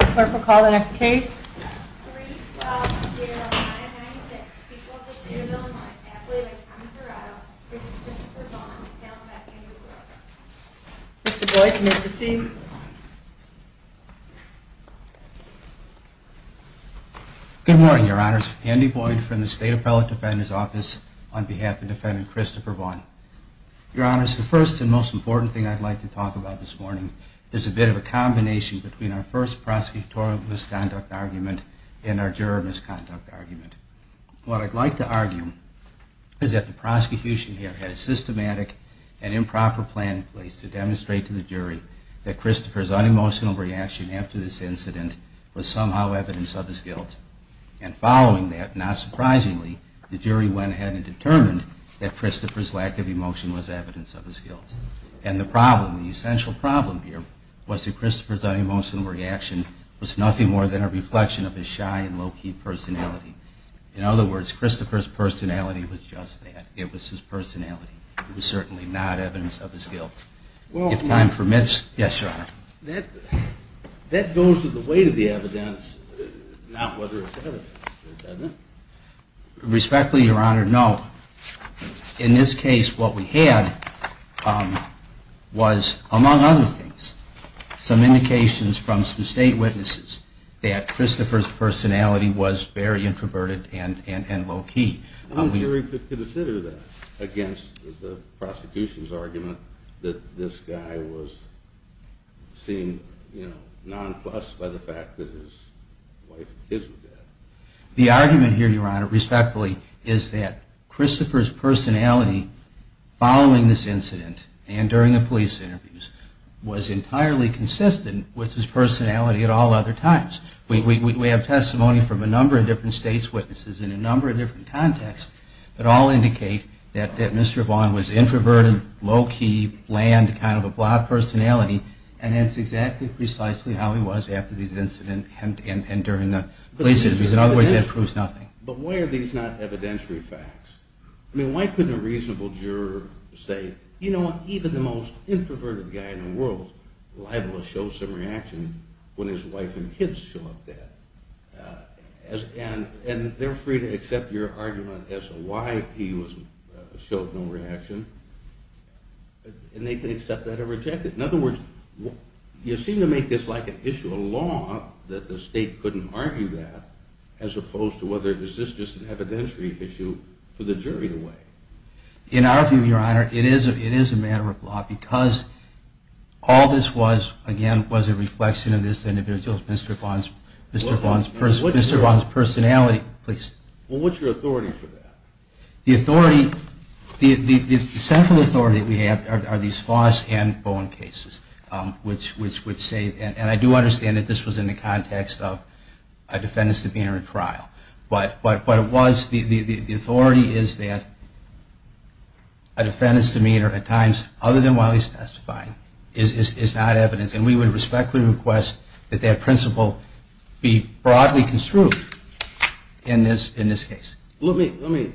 the next case. Mr Boyd. Good morning, Your Honors. Andy Boyd from the State Appellate Defender's Office on behalf of Defendant Christopher Vaughn. Your Honors, the first and most important thing I'd like to talk about this morning is a bit of a prosecutorial misconduct argument and our juror misconduct argument. What I'd like to argue is that the prosecution here had a systematic and improper plan in place to demonstrate to the jury that Christopher's unemotional reaction after this incident was somehow evidence of his guilt. And following that, not surprisingly, the jury went ahead and determined that Christopher's lack of emotion was evidence of his guilt. And the problem, the essential problem here was that Christopher's unemotional reaction was nothing more than a reflection of his shy and low-key personality. In other words, Christopher's personality was just that. It was his personality. It was certainly not evidence of his guilt. Well, if time permits... Yes, Your Honor. That goes with the weight of the evidence, not whether it's evidence. Respectfully, Your Honor, no. In this case, what we had was, among other things, some indications from some state witnesses that Christopher's personality was very introverted and low-key. How would the jury consider that against the prosecution's argument that this guy was seen, you know, nonplussed by the fact that his wife and kids were dead? The argument here, Your Honor, respectfully, is that Christopher's personality following this incident and during the police interviews was entirely consistent with his personality at all other times. We have testimony from a number of different states' witnesses in a number of different contexts that all indicate that Mr. Vaughn was introverted, low-key, bland, kind of a blob personality, and that's exactly, precisely how he was after this incident and during the police interviews. In other words, that proves nothing. But why are these not evidentiary facts? I mean, why couldn't a reasonable juror say, you know what, even the most introverted guy in the world is liable to show some reaction when his wife and kids show up dead? And they're free to accept your argument as to why he showed no reaction, and they can accept that or reject it. In other words, you seem to make this like an issue of law that the state couldn't argue that, as opposed to whether is this just an evidentiary issue for the jury to weigh. In our view, Your Honor, it is a matter of law, because all this was, again, was a reflection of this individual's, Mr. Vaughn's, Mr. Vaughn's, Mr. Vaughn's personality. Well, what's your authority for that? The authority, the central authority that we have are these Foss and Bowen cases, which would say, and I do understand that this was in the context of a defendant's demeanor in trial, but what it was, the authority is that a defendant's demeanor at times other than while he's testifying is not evidence, and we would respectfully request that that principle be broadly construed in this case. Let me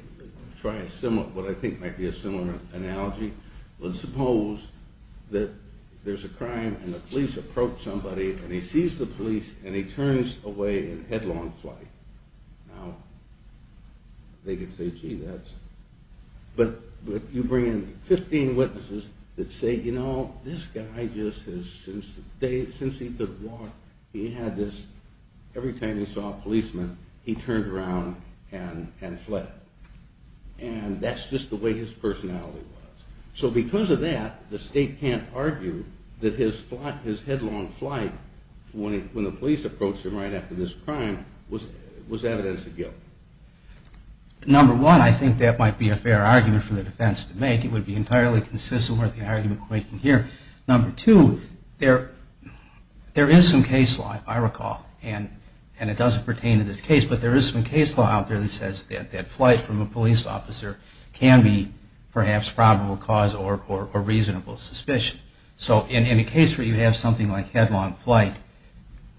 try a similar, what I think might be a similar analogy. Let's suppose that there's a crime and the police approach somebody and he sees the police and he turns away in headlong flight. Now, they could say, gee, that's, but you bring in 15 witnesses that say, you know, this guy just has, since the day, since he could walk, he had this, every time he saw a policeman, he turned around and fled. And that's just the way his personality was. So because of that, the state can't argue that his headlong flight, when the police approached him right after this crime, was evidence of guilt. Number one, I think that might be a reasonable argument to make. It would be entirely consistent with the argument we're making here. Number two, there is some case law, if I recall, and it doesn't pertain to this case, but there is some case law out there that says that that flight from a police officer can be perhaps probable cause or reasonable suspicion. So in a case where you have something like headlong flight,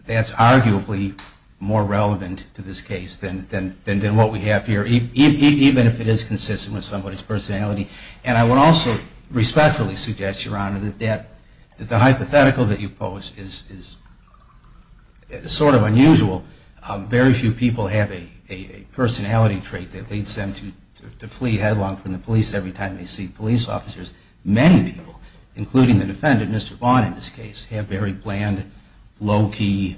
that's arguably more relevant to this case than what we have here, even if it is consistent with somebody's personality. And I would also respectfully suggest, Your Honor, that the hypothetical that you pose is sort of unusual. Very few people have a personality trait that leads them to flee headlong from the police every time they see police officers. Many people, including the defendant, Mr. Vaughn, in this case, have very bland, low-key,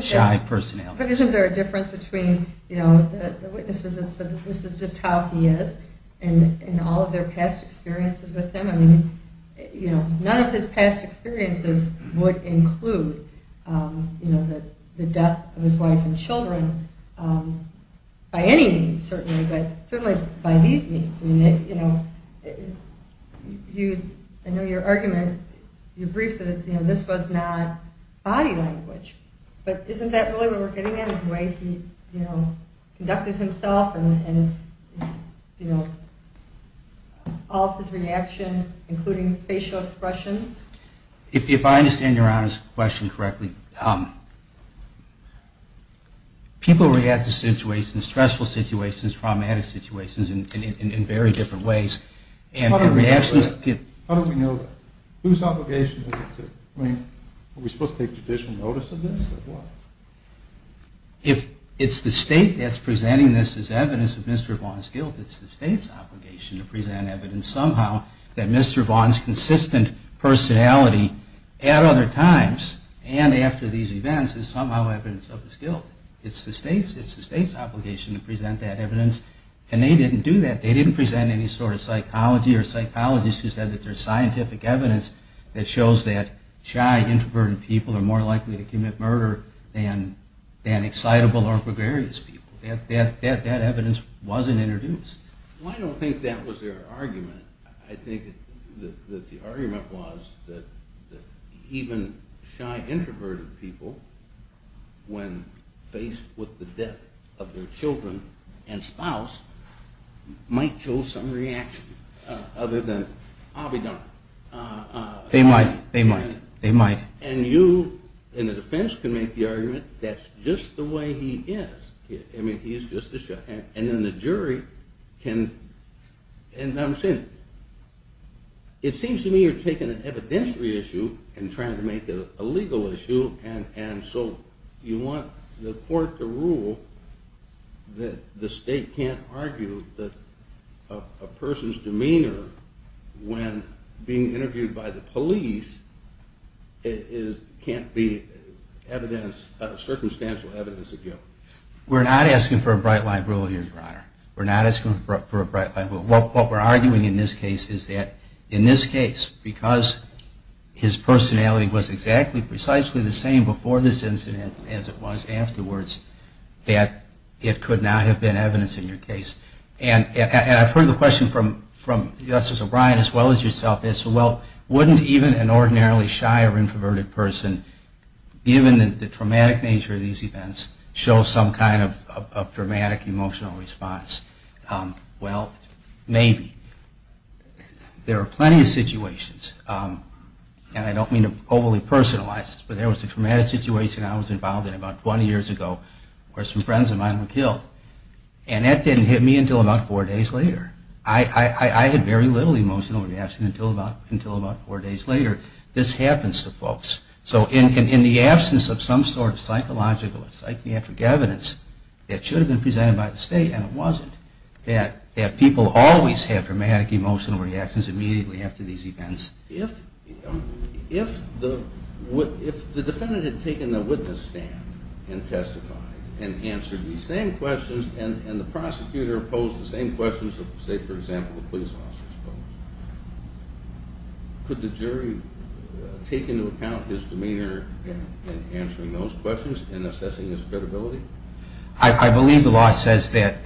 shy personality. But isn't there a difference between the witnesses that said this is just how he is, and all of their past experiences with him? I mean, none of his past experiences would include the death of his wife and children, by any means, certainly, but certainly by these means. I mean, I know your argument, your brief said that this was not body language, but isn't that really what we're getting at, his way he conducted himself and all of his reaction, including facial expressions? If I understand Your Honor's question correctly, people react to stressful situations, traumatic situations, in very different ways. How do we know that? Whose obligation is it to? I mean, are we supposed to take judicial notice of this, or what? If it's the state that's presenting this as evidence of Mr. Vaughn's guilt, it's the state's obligation to present evidence somehow that Mr. Vaughn's consistent personality at other times and after these events is somehow evidence of his guilt. It's the state's obligation to present that evidence, and they didn't do that. They didn't present any sort of psychology or psychologists who said that there's scientific evidence that shows that shy, introverted people are more likely to commit murder than excitable or gregarious people. That evidence wasn't introduced. Well, I don't think that was their argument. I think that the argument was that even shy, introverted people, when faced with the death of their children and spouse, might show some reaction other than, I'll be done. They might. They might. They might. And you, in the defense, can make the argument that's just the way he is. I mean, he's just a shy. And then the jury can, and I'm saying, it seems to me you're taking an evidentiary issue and trying to make it a legal issue. And so you want the court to rule that the state can't argue that a person's demeanor when being interviewed by the police can't be circumstantial evidence of guilt. We're not asking for a bright line rule here, Your Honor. We're not asking for a bright line rule. What we're arguing in this case is that in this case, because his personality was exactly, precisely the same before this incident as it was afterwards, that it could not have been evidence in your case. And I've heard the question from Justice O'Brien as well as yourself is, well, wouldn't even an ordinarily shy or introverted person, given the traumatic nature of these events, show some kind of dramatic emotional response? Well, maybe. There are plenty of situations, and I don't mean to overly personalize this, but there was a traumatic situation I was involved in about 20 years ago where some friends of mine were killed. And that didn't hit me until about four days later. I had very little emotional reaction until about four days later. This happens to folks. So in the absence of some sort of psychological or psychiatric evidence, it should have been presented by the state, and it wasn't, that people always have dramatic emotional reactions immediately after these events. If the defendant had taken the witness stand and testified and answered the same questions and the prosecutor posed the same questions that, say, for example, the police officer posed, could the jury take into account his demeanor in answering those questions and assessing his credibility? I believe the law says that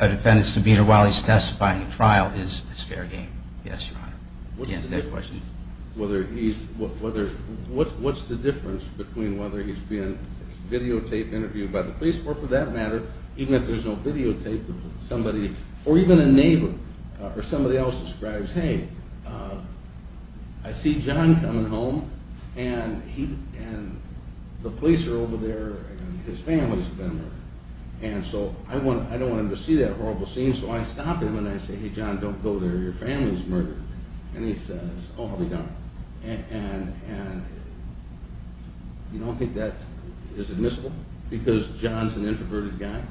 a defendant's demeanor while he's testifying in trial is fair game. Yes, Your Honor, to answer that question. Whether he's, what's the difference between whether he's being videotaped, interviewed by the police, or for that matter, even if there's no videotape of somebody, or even a neighbor, or somebody else describes, hey, I see John coming home, and the police are over there, and his family's been murdered. And so I don't want him to see that horrible scene, so I stop him, and I say, hey, John, don't go there. Your family's murdered. And he says, oh, how'd he know? And you don't think that is admissible, because John's an introverted guy?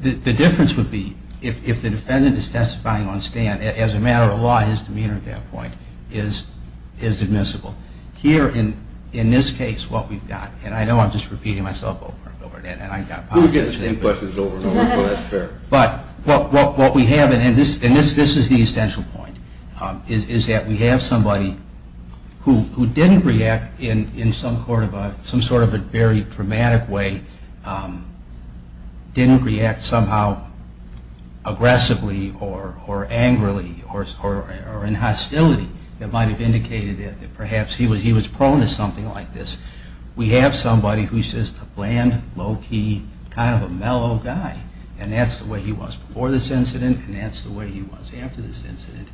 The difference would be, if the defendant is testifying on stand, as a matter of law, his demeanor at that point is admissible. Here, in this case, what we've got, and I know I'm just repeating myself over and over again, and I got popular. We'll get the same questions over and over, so that's fair. But what we have, and this is the essential point, is that we have somebody who didn't react in some sort of a very dramatic way, didn't react somehow aggressively, or angrily, or in hostility, that might have indicated that perhaps he was prone to something like this. We have somebody who's just a bland, low-key, kind of a mellow guy, and that's the way he was before this incident, and that's the way he was after this incident.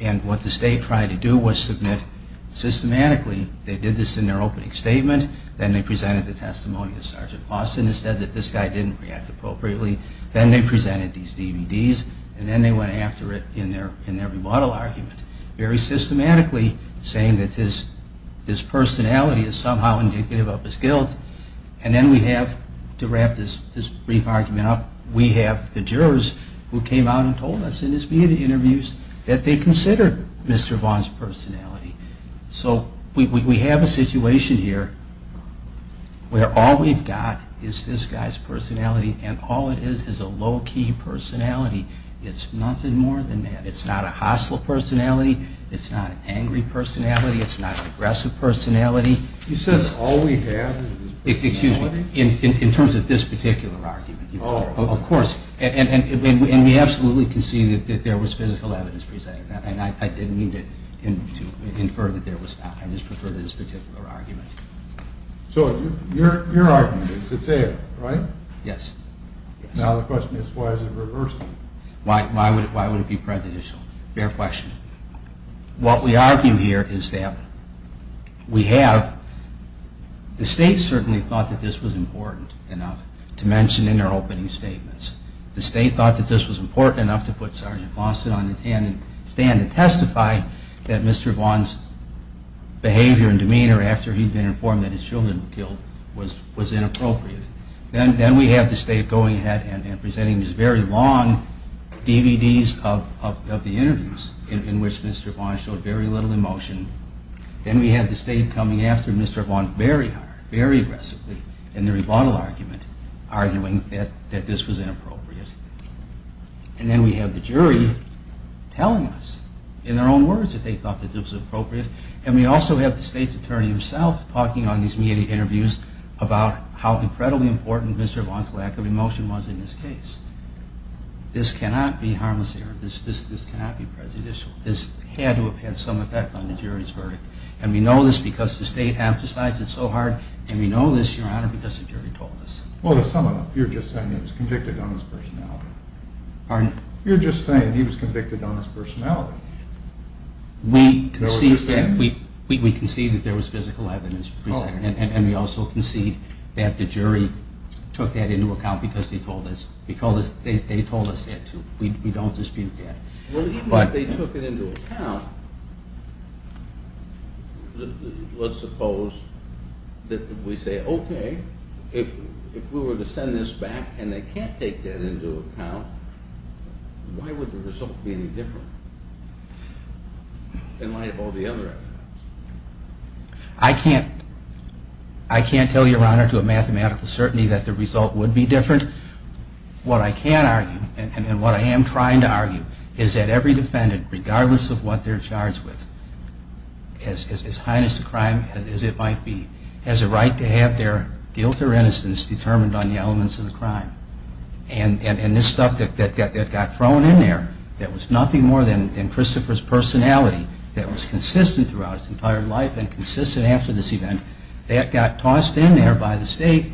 And what the state tried to do was submit, systematically, they did this in their opening statement, then they presented the testimony that Sergeant Boston had said that this guy didn't react appropriately, then they presented these DVDs, and then they went after it in their rebuttal argument, very systematically saying that his personality is somehow indicative of his guilt. And then we have, to wrap this brief argument up, we have the jurors who came out and told us in his media interviews that they considered Mr. Vaughn's personality. So we have a situation here where all we've got is this guy's personality, and all it is is a low-key personality. It's nothing more than that. It's not a hostile personality, it's not an angry personality, it's not an aggressive personality. You said it's all we have is his personality? In terms of this particular argument, of course. And we absolutely concede that there was physical evidence presented, and I didn't mean to infer that there was not. I just prefer this particular argument. So your argument is that's it, right? Yes. Now the question is, why is it reversed? Why would it be prejudicial? Fair question. What we argue here is that we have, the state certainly thought that this was important enough to mention in their opening statements. The state thought that this was important enough to put Sergeant Fawcett on the stand to testify that Mr. Vaughn's behavior and demeanor after he'd been informed that his children were killed was inappropriate. Then we have the state going ahead and presenting these very long DVDs of the interviews in which Mr. Vaughn showed very little emotion. Then we have the state coming after Mr. Vaughn very hard, very aggressively, in the rebuttal argument, arguing that this was inappropriate. And then we have the jury telling us, in their own words, that they thought that this was appropriate. And we also have the state's attorney himself talking on these media interviews about how incredibly important Mr. Vaughn's lack of emotion was in this case. This cannot be harmless error. This cannot be prejudicial. This had to have had some effect on the jury's verdict. And we know this because the state emphasized it so hard. And we know this, Your Honor, because the jury told us. Well, to sum it up, you're just saying he was convicted on his personality. You're just saying he was convicted on his personality. We concede that there was physical evidence presented. And we also concede that the jury took that into account because they told us that, too. We don't dispute that. Well, even if they took it into account, let's suppose that we say, OK, if we were to send this back and they can't take that into account, why would the result be any different in light of all the other evidence? I can't tell you, Your Honor, to a mathematical certainty that the result would be different. What I can argue, and what I am trying to argue, is that every defendant, regardless of what they're charged with, as heinous a crime as it might be, has a right to have their guilt or innocence determined on the elements of the crime. And this stuff that got thrown in there that was nothing more than Christopher's personality that was consistent throughout his entire life and consistent after this event, that got tossed in there by the state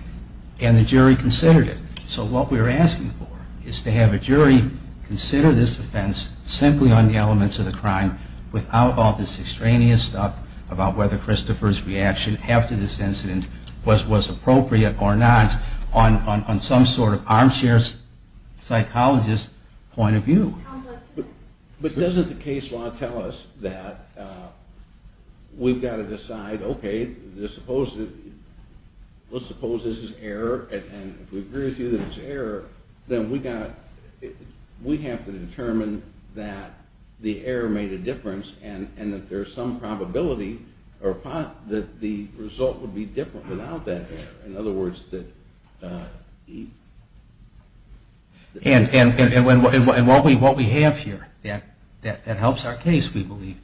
and the jury considered it. So what we're asking for is to have a jury consider this offense simply on the elements of the crime without all this extraneous stuff about whether Christopher's reaction after this incident was appropriate or not on some sort of armchair psychologist point of view. But doesn't the case law tell us that we've got to decide, OK, let's suppose this is error. And if we agree with you that it's error, then we have to determine that the error made a difference and that there's some probability that the result would be different without that error. In other words, that he. And what we have here that helps our case, we believe,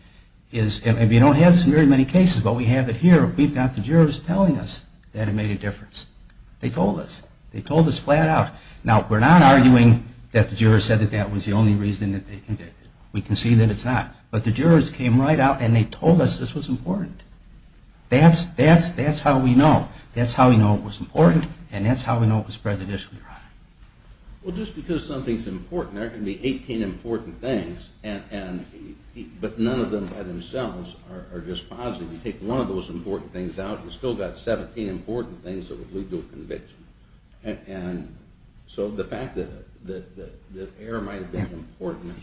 is, and we don't have this in very many cases, but we have it here. We've got the jurors telling us that it made a difference. They told us. They told us flat out. Now, we're not arguing that the jurors said that that was the only reason that they convicted. We can see that it's not. But the jurors came right out and they said it was important. That's how we know. That's how we know it was important. And that's how we know it was prejudicial, Your Honor. Well, just because something's important, there can be 18 important things. But none of them by themselves are just positive. You take one of those important things out, you've still got 17 important things that would lead to a conviction. And so the fact that error might have been important,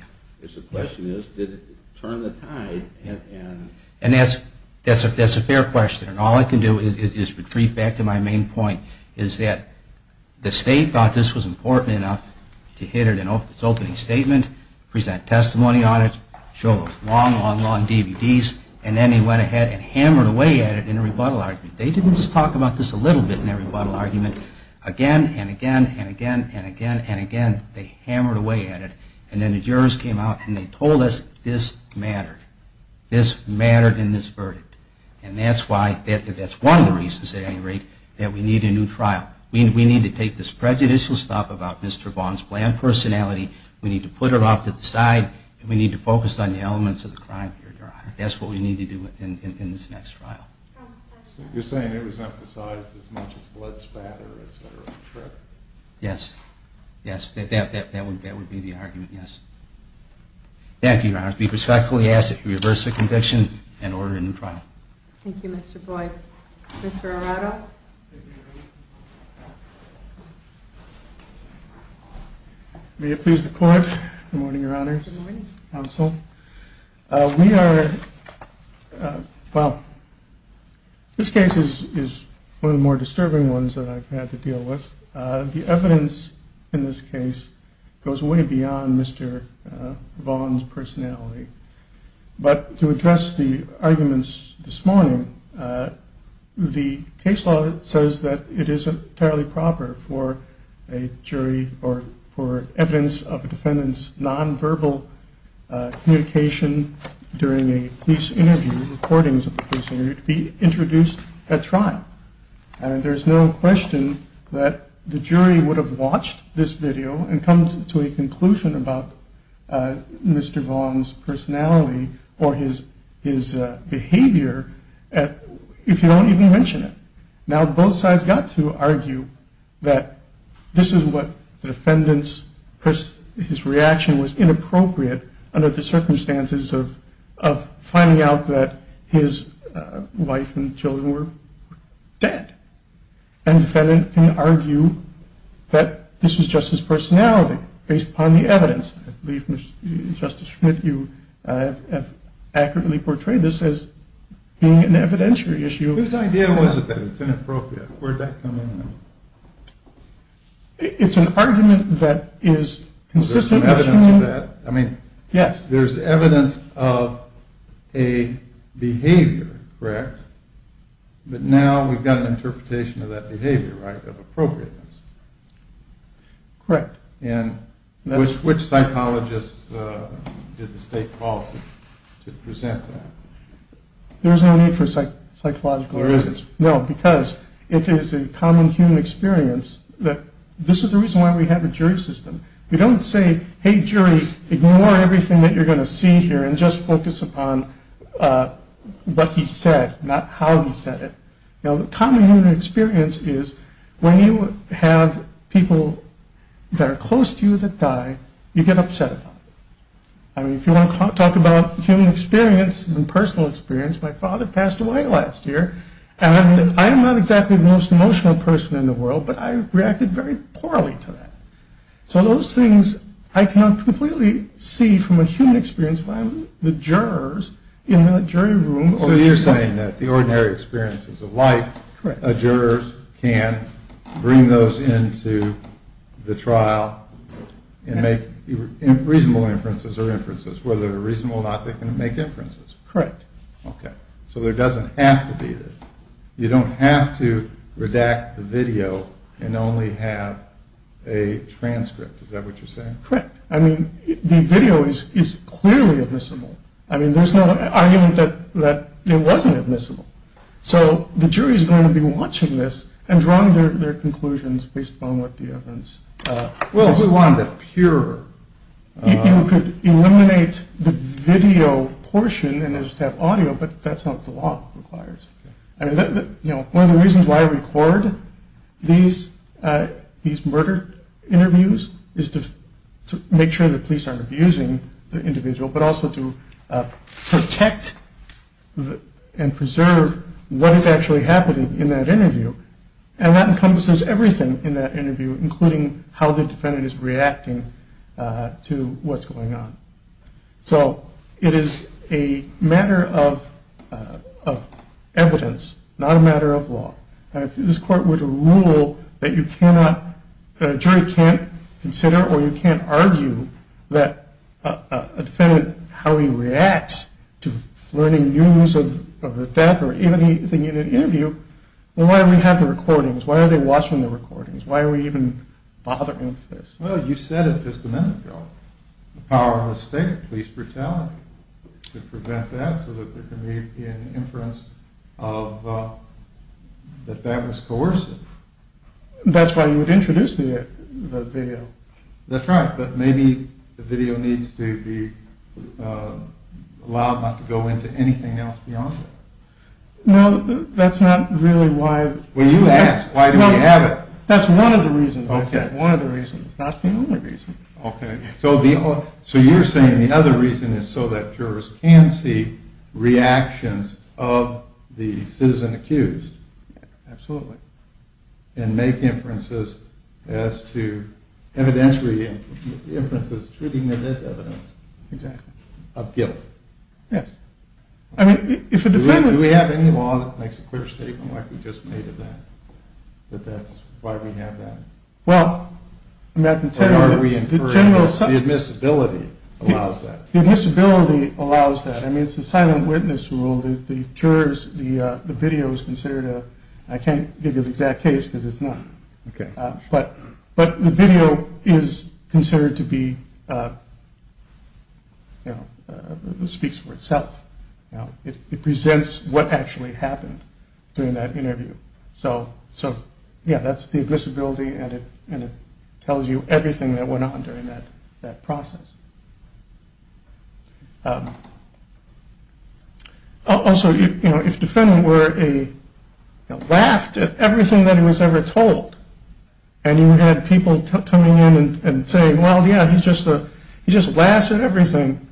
it's a question is, did it turn the tide? And that's a fair question. And all I can do is retreat back to my main point, is that the state thought this was important enough to hit it in its opening statement, present testimony on it, show the long, long, long DVDs. And then they went ahead and hammered away at it in a rebuttal argument. They didn't just talk about this a little bit in their rebuttal argument. Again, and again, and again, and again, and again, they hammered away at it. And then the jurors came out, and they told us this mattered. This mattered in this verdict. And that's why, that's one of the reasons, at any rate, that we need a new trial. We need to take this prejudicial stuff about Mr. Vaughn's bland personality, we need to put it off to the side, and we need to focus on the elements of the crime here, Your Honor. That's what we need to do in this next trial. You're saying it was emphasized as much as blood spatter, et cetera. Yes. Yes, that would be the argument, yes. Thank you, Your Honor. We respectfully ask that you reverse the conviction and order a new trial. Thank you, Mr. Boyd. Mr. Arado. May it please the Court. Good morning, Your Honors. Good morning. Counsel. We are, well, this case is one of the more disturbing ones that I've had to deal with. The evidence in this case goes way beyond Mr. Vaughn's personality. But to address the arguments this morning, the case law says that it is entirely proper for a jury or for evidence of a defendant's nonverbal communication during a police interview, recordings of a police interview, to be introduced at trial. And there's no question that the jury would have watched this video and come to a conclusion about Mr. Vaughn's personality or his behavior if you don't even mention it. Now, both sides got to argue that this is what the defendant's reaction was inappropriate under the circumstances of finding out that his wife and children were dead. And the defendant can argue that this was just his personality based upon the evidence. I believe, Justice Schmidt, you have accurately portrayed this as being an evidentiary issue. Whose idea was it that it's inappropriate? Where'd that come in from? It's an argument that is consistent. There's some evidence of that? I mean, there's evidence of a, a behavior, correct? But now we've got an interpretation of that behavior, right, of appropriateness. Correct. And which psychologists did the state call to present that? There's no need for psychological evidence. No, because it is a common human experience that this is the reason why we have a jury system. We don't say, hey, jury, ignore everything that you're going to see here and just focus upon what he said, not how he said it. Now, the common human experience is when you have people that are close to you that die, you get upset about it. I mean, if you want to talk about human experience and personal experience, my father passed away last year. And I am not exactly the most emotional person in the world, but I reacted very poorly to that. So those things I cannot completely see from a human experience when I'm the jurors in the jury room. So you're saying that the ordinary experiences of life, jurors can bring those into the trial and make reasonable inferences or inferences. Whether they're reasonable or not, they can make inferences. Correct. OK. So there doesn't have to be this. You don't have to redact the video and only have a transcript. Is that what you're saying? Correct. I mean, the video is clearly admissible. I mean, there's no argument that it wasn't admissible. So the jury is going to be watching this and drawing their conclusions based upon what the evidence says. Well, if we wanted a purer. You could eliminate the video portion and just have audio, but that's not what the law requires. I mean, one of the reasons why I record these murder interviews is to make sure the police aren't abusing the individual, but also to protect and preserve what is actually happening in that interview. And that encompasses everything in that interview, including how the defendant is reacting to what's going on. So it is a matter of evidence, not a matter of law. This court would rule that a jury can't consider or you can't argue that a defendant, how he reacts to learning news of the death or anything in an interview, why do we have the recordings? Why are they watching the recordings? Why are we even bothering with this? Well, you said it just a minute ago. The power of the state, police brutality, to prevent that so that there can be an inference that that was coercive. That's why you would introduce the video. That's right, but maybe the video needs to be allowed not to go into anything else beyond that. No, that's not really why. Well, you asked, why do we have it? That's one of the reasons. One of the reasons, not the only reason. So you're saying the other reason is so that jurors can see reactions of the citizen accused. Absolutely. And make inferences as to evidentiary inferences treating it as evidence of guilt. Yes. I mean, if a defendant. Do we have any law that makes a clear statement like we just made of that, that that's why we have that? Well, I mean, I can tell you that the general assumption. The admissibility allows that. The admissibility allows that. I mean, it's a silent witness rule. The jurors, the video is considered a, I can't give you the exact case because it's not. But the video is considered to be, it speaks for itself. It presents what actually happened during that interview. So yeah, that's the admissibility. And it tells you everything that went on during that process. Also, if the defendant were a, laughed at everything that he was ever told, and you had people coming in and saying, well, yeah, he just laughed at everything,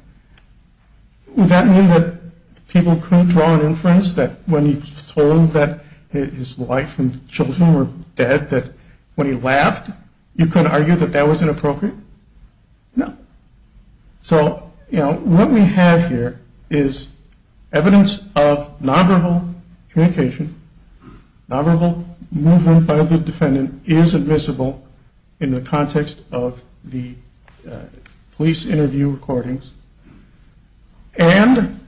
would that mean that people couldn't draw an inference that when he was told that his wife and children were dead, that when he laughed, you couldn't argue that that was inappropriate? No. So what we have here is evidence of nonverbal communication. Nonverbal movement by the defendant is admissible in the context of the police interview recordings. And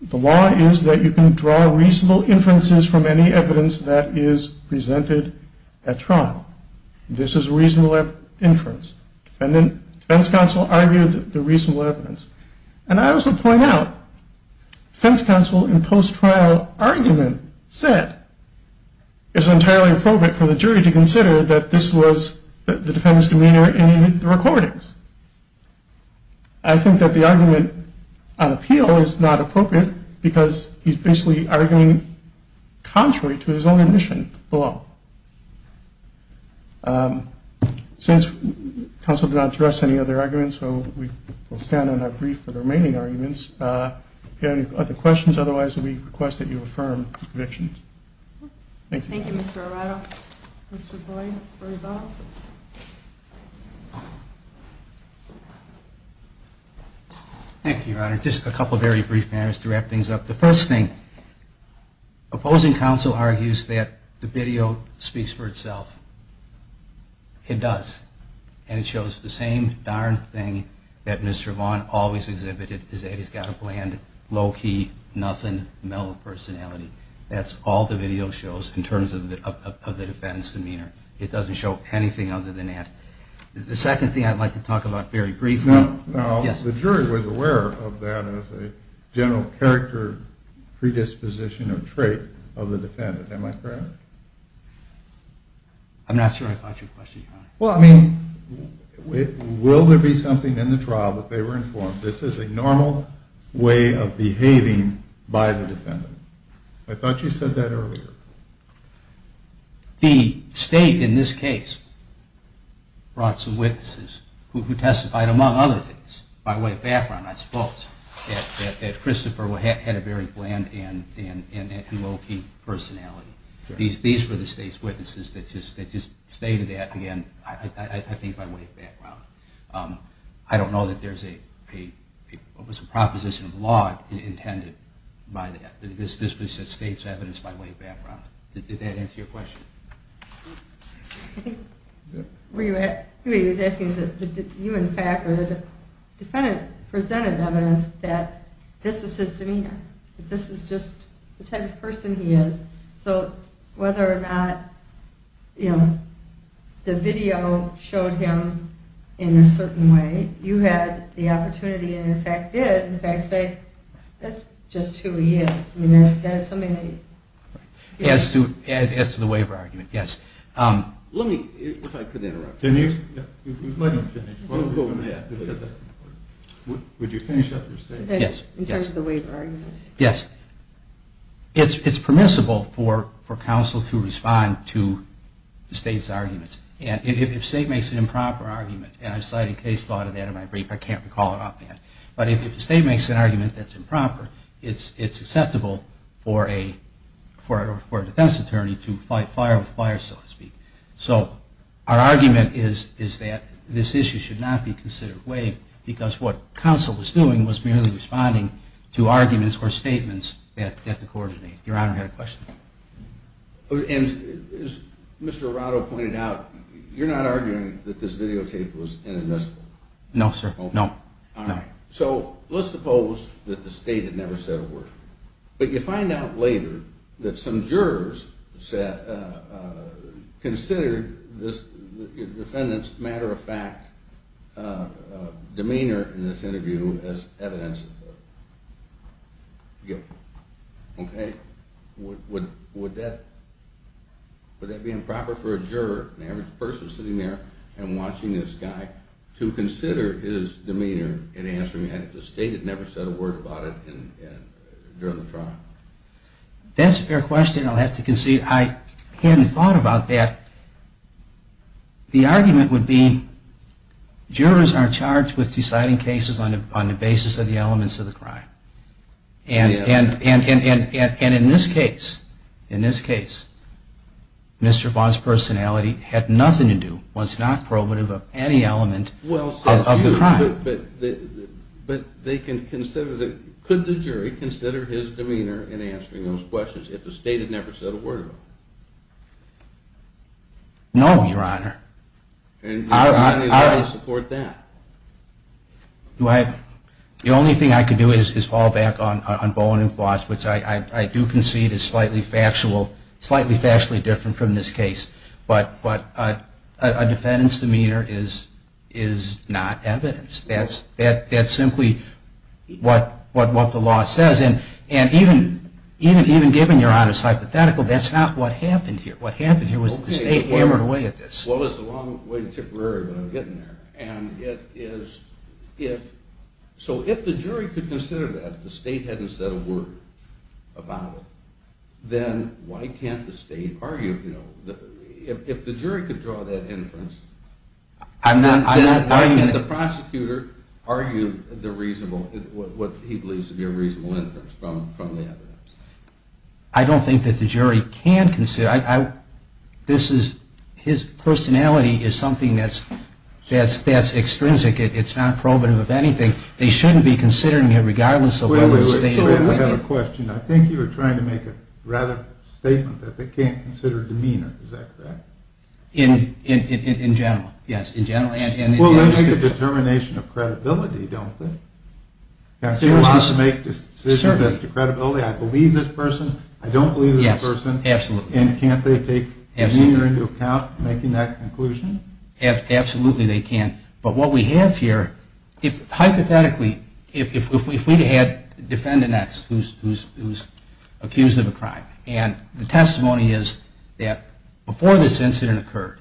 the law is that you can draw reasonable inferences from any evidence that is presented at trial. This is reasonable inference. And then defense counsel argued the reasonable evidence. And I also point out, defense counsel in post-trial argument said, it's entirely appropriate for the jury to consider that this was the defendant's demeanor in the recordings. I think that the argument on appeal is not appropriate, because he's basically arguing contrary to his own admission below. Since counsel did not address any other arguments, so we will stand on our brief for the remaining arguments. If you have any other questions, otherwise, we request that you affirm your convictions. Thank you. Thank you, Mr. Arado. Mr. Boyd, for your vote. Thank you, Your Honor. Just a couple of very brief matters to wrap things up. The first thing, opposing counsel argues that the video speaks for itself. It does. And it shows the same darn thing that Mr. Vaughn always exhibited, is that he's got a bland, low-key, nothing, mellow personality. That's all the video shows in terms of the defendant's demeanor. It doesn't show anything other than that. The second thing I'd like to talk about very briefly. Now, the jury was aware of that as a general character predisposition or trait of the defendant. Am I correct? I'm not sure I got your question, Your Honor. Well, I mean, will there be something in the trial that they were informed this is a normal way of behaving by the defendant? I thought you said that earlier. The state, in this case, brought some witnesses who testified, among other things, by way of background, I suppose, that Christopher had a very bland and low-key personality. These were the state's witnesses that just stated that, again, I think by way of background. I don't know that there's a proposition of the law intended by that. This was the state's evidence by way of background. Did that answer your question? I think where you were asking is that you, in fact, were the defendant presented evidence that this was his demeanor, that this is just the type of person he is. So whether or not the video showed him in a certain way, you had the opportunity and, in fact, did, in fact, say that's just who he is. I mean, that is something that you could say. As to the waiver argument, yes. Let me, if I could interrupt. Can you? Yeah. You might not finish. We'll go with that, because that's important. Would you finish up your statement? In terms of the waiver argument? Yes. It's permissible for counsel to respond to the state's arguments. And if the state makes an improper argument, and I've cited case law to that in my brief, I can't recall it offhand. But if the state makes an argument that's improper, it's acceptable for a defense attorney to fight fire with fire, so to speak. So our argument is that this issue should not be considered waived, because what counsel was doing was merely responding to arguments or statements that the court made. Your Honor, I had a question. And as Mr. Arado pointed out, you're not arguing that this videotape was inadmissible? No, sir. No. So let's suppose that the state had never said a word. But you find out later that some jurors considered this defendant's matter-of-fact demeanor in this interview as evidence of guilt. OK? Would that be improper for a juror, an average person sitting there and watching this guy, to consider his demeanor in answering that if the state had never said a word about it during the trial? That's a fair question. I'll have to concede I hadn't thought about that. The argument would be jurors are charged with deciding cases on the basis of the elements of the crime. And in this case, Mr. Vaughn's personality had nothing to do, was not probative, of any element of the crime. But could the jury consider his demeanor in answering those questions if the state had never said a word about it? No, Your Honor. And Your Honor, how do you support that? The only thing I could do is fall back on Bowen and Floss, which I do concede is slightly factually different from this case. But a defendant's demeanor is not evidence. That's simply what the law says. And even given Your Honor's hypothetical, that's not what happened here. What happened here was that the state hammered away at this. Well, it was a long way to Tipperary, but I'm getting there. And so if the jury could consider that the state hadn't said a word about it, then why can't the state argue? If the jury could draw that inference, why can't the prosecutor argue what he believes to be a reasonable inference from the evidence? I don't think that the jury can consider it. His personality is something that's extrinsic. It's not probative of anything. They shouldn't be considering it, regardless of whether the state ever had a question. I think you were trying to make a rather statement that they can't consider demeanor. Is that correct? In general, yes. In general and in the case itself. Well, they make a determination of credibility, don't they? Can't jurists make decisions as to credibility? I believe this person. I don't believe this person. Absolutely. And can't they take demeanor into account making that conclusion? Absolutely they can. But what we have here, hypothetically, if we had defendants who's accused of a crime, and the testimony is that before this incident occurred,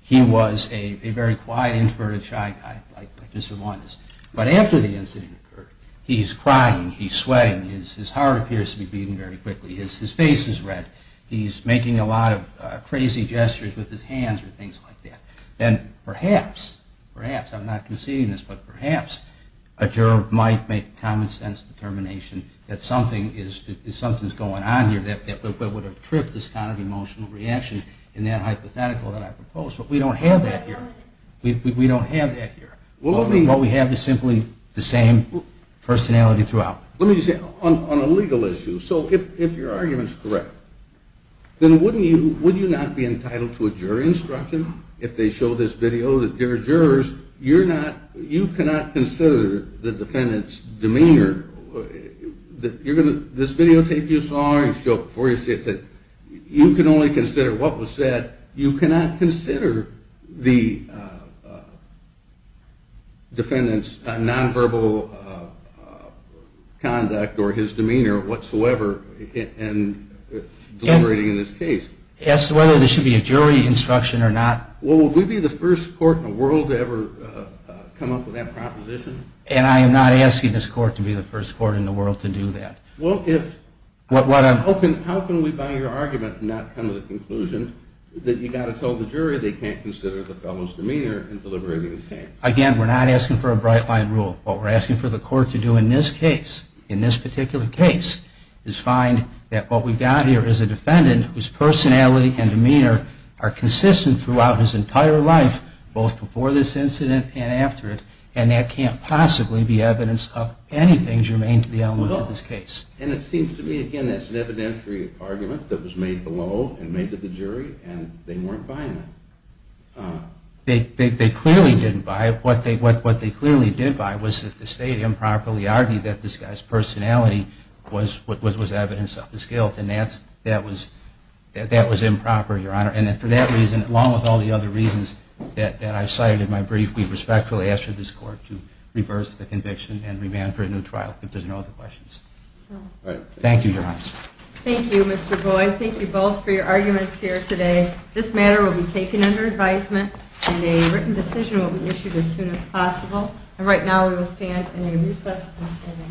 he was a very quiet, introverted, shy guy, like Mr. Launders. But after the incident occurred, he's crying. He's sweating. His heart appears to be beating very quickly. His face is red. He's making a lot of crazy gestures with his hands or things like that. Then perhaps, perhaps, I'm not conceding this, but perhaps a juror might make a common sense determination that something is going on here that would have tripped this kind of emotional reaction in that hypothetical that I proposed. But we don't have that here. We don't have that here. What we have is simply the same personality throughout. Let me just say, on a legal issue, so if your argument's correct, then wouldn't you not be entitled to a jury instruction if they show this video that they're jurors? You cannot consider the defendant's demeanor. This videotape you saw, before you see it, you can only consider what was said. You cannot consider the defendant's nonverbal conduct or his demeanor whatsoever in deliberating in this case. As to whether there should be a jury instruction or not? Well, would we be the first court in the world to ever come up with that proposition? And I am not asking this court to be the first court in the world to do that. Well, if, how can we, by your argument, not come to the conclusion that you've got to tell the jury they can't consider the fellow's demeanor in deliberating the case? Again, we're not asking for a bright line rule. What we're asking for the court to do in this case, in this particular case, is find that what we've got here is a defendant whose personality and demeanor are consistent throughout his entire life, both before this incident and after it, and that can't possibly be evidence of anything germane to the elements of this case. And it seems to me, again, that's an evidentiary argument that was made below and made to the jury, and they weren't buying it. They clearly didn't buy it. What they clearly did buy was that the state improperly argued that this guy's personality was evidence of his guilt. And that was improper, Your Honor. And for that reason, along with all the other reasons that I've cited in my brief, we respectfully ask for this court to reverse the conviction and remand for a new trial, if there's no other questions. Thank you, Your Honor. Thank you, Mr. Boyd. Thank you both for your arguments here today. This matter will be taken under advisement, and a written decision will be issued as soon as possible. And right now, we will stand in a recess until 11 o'clock.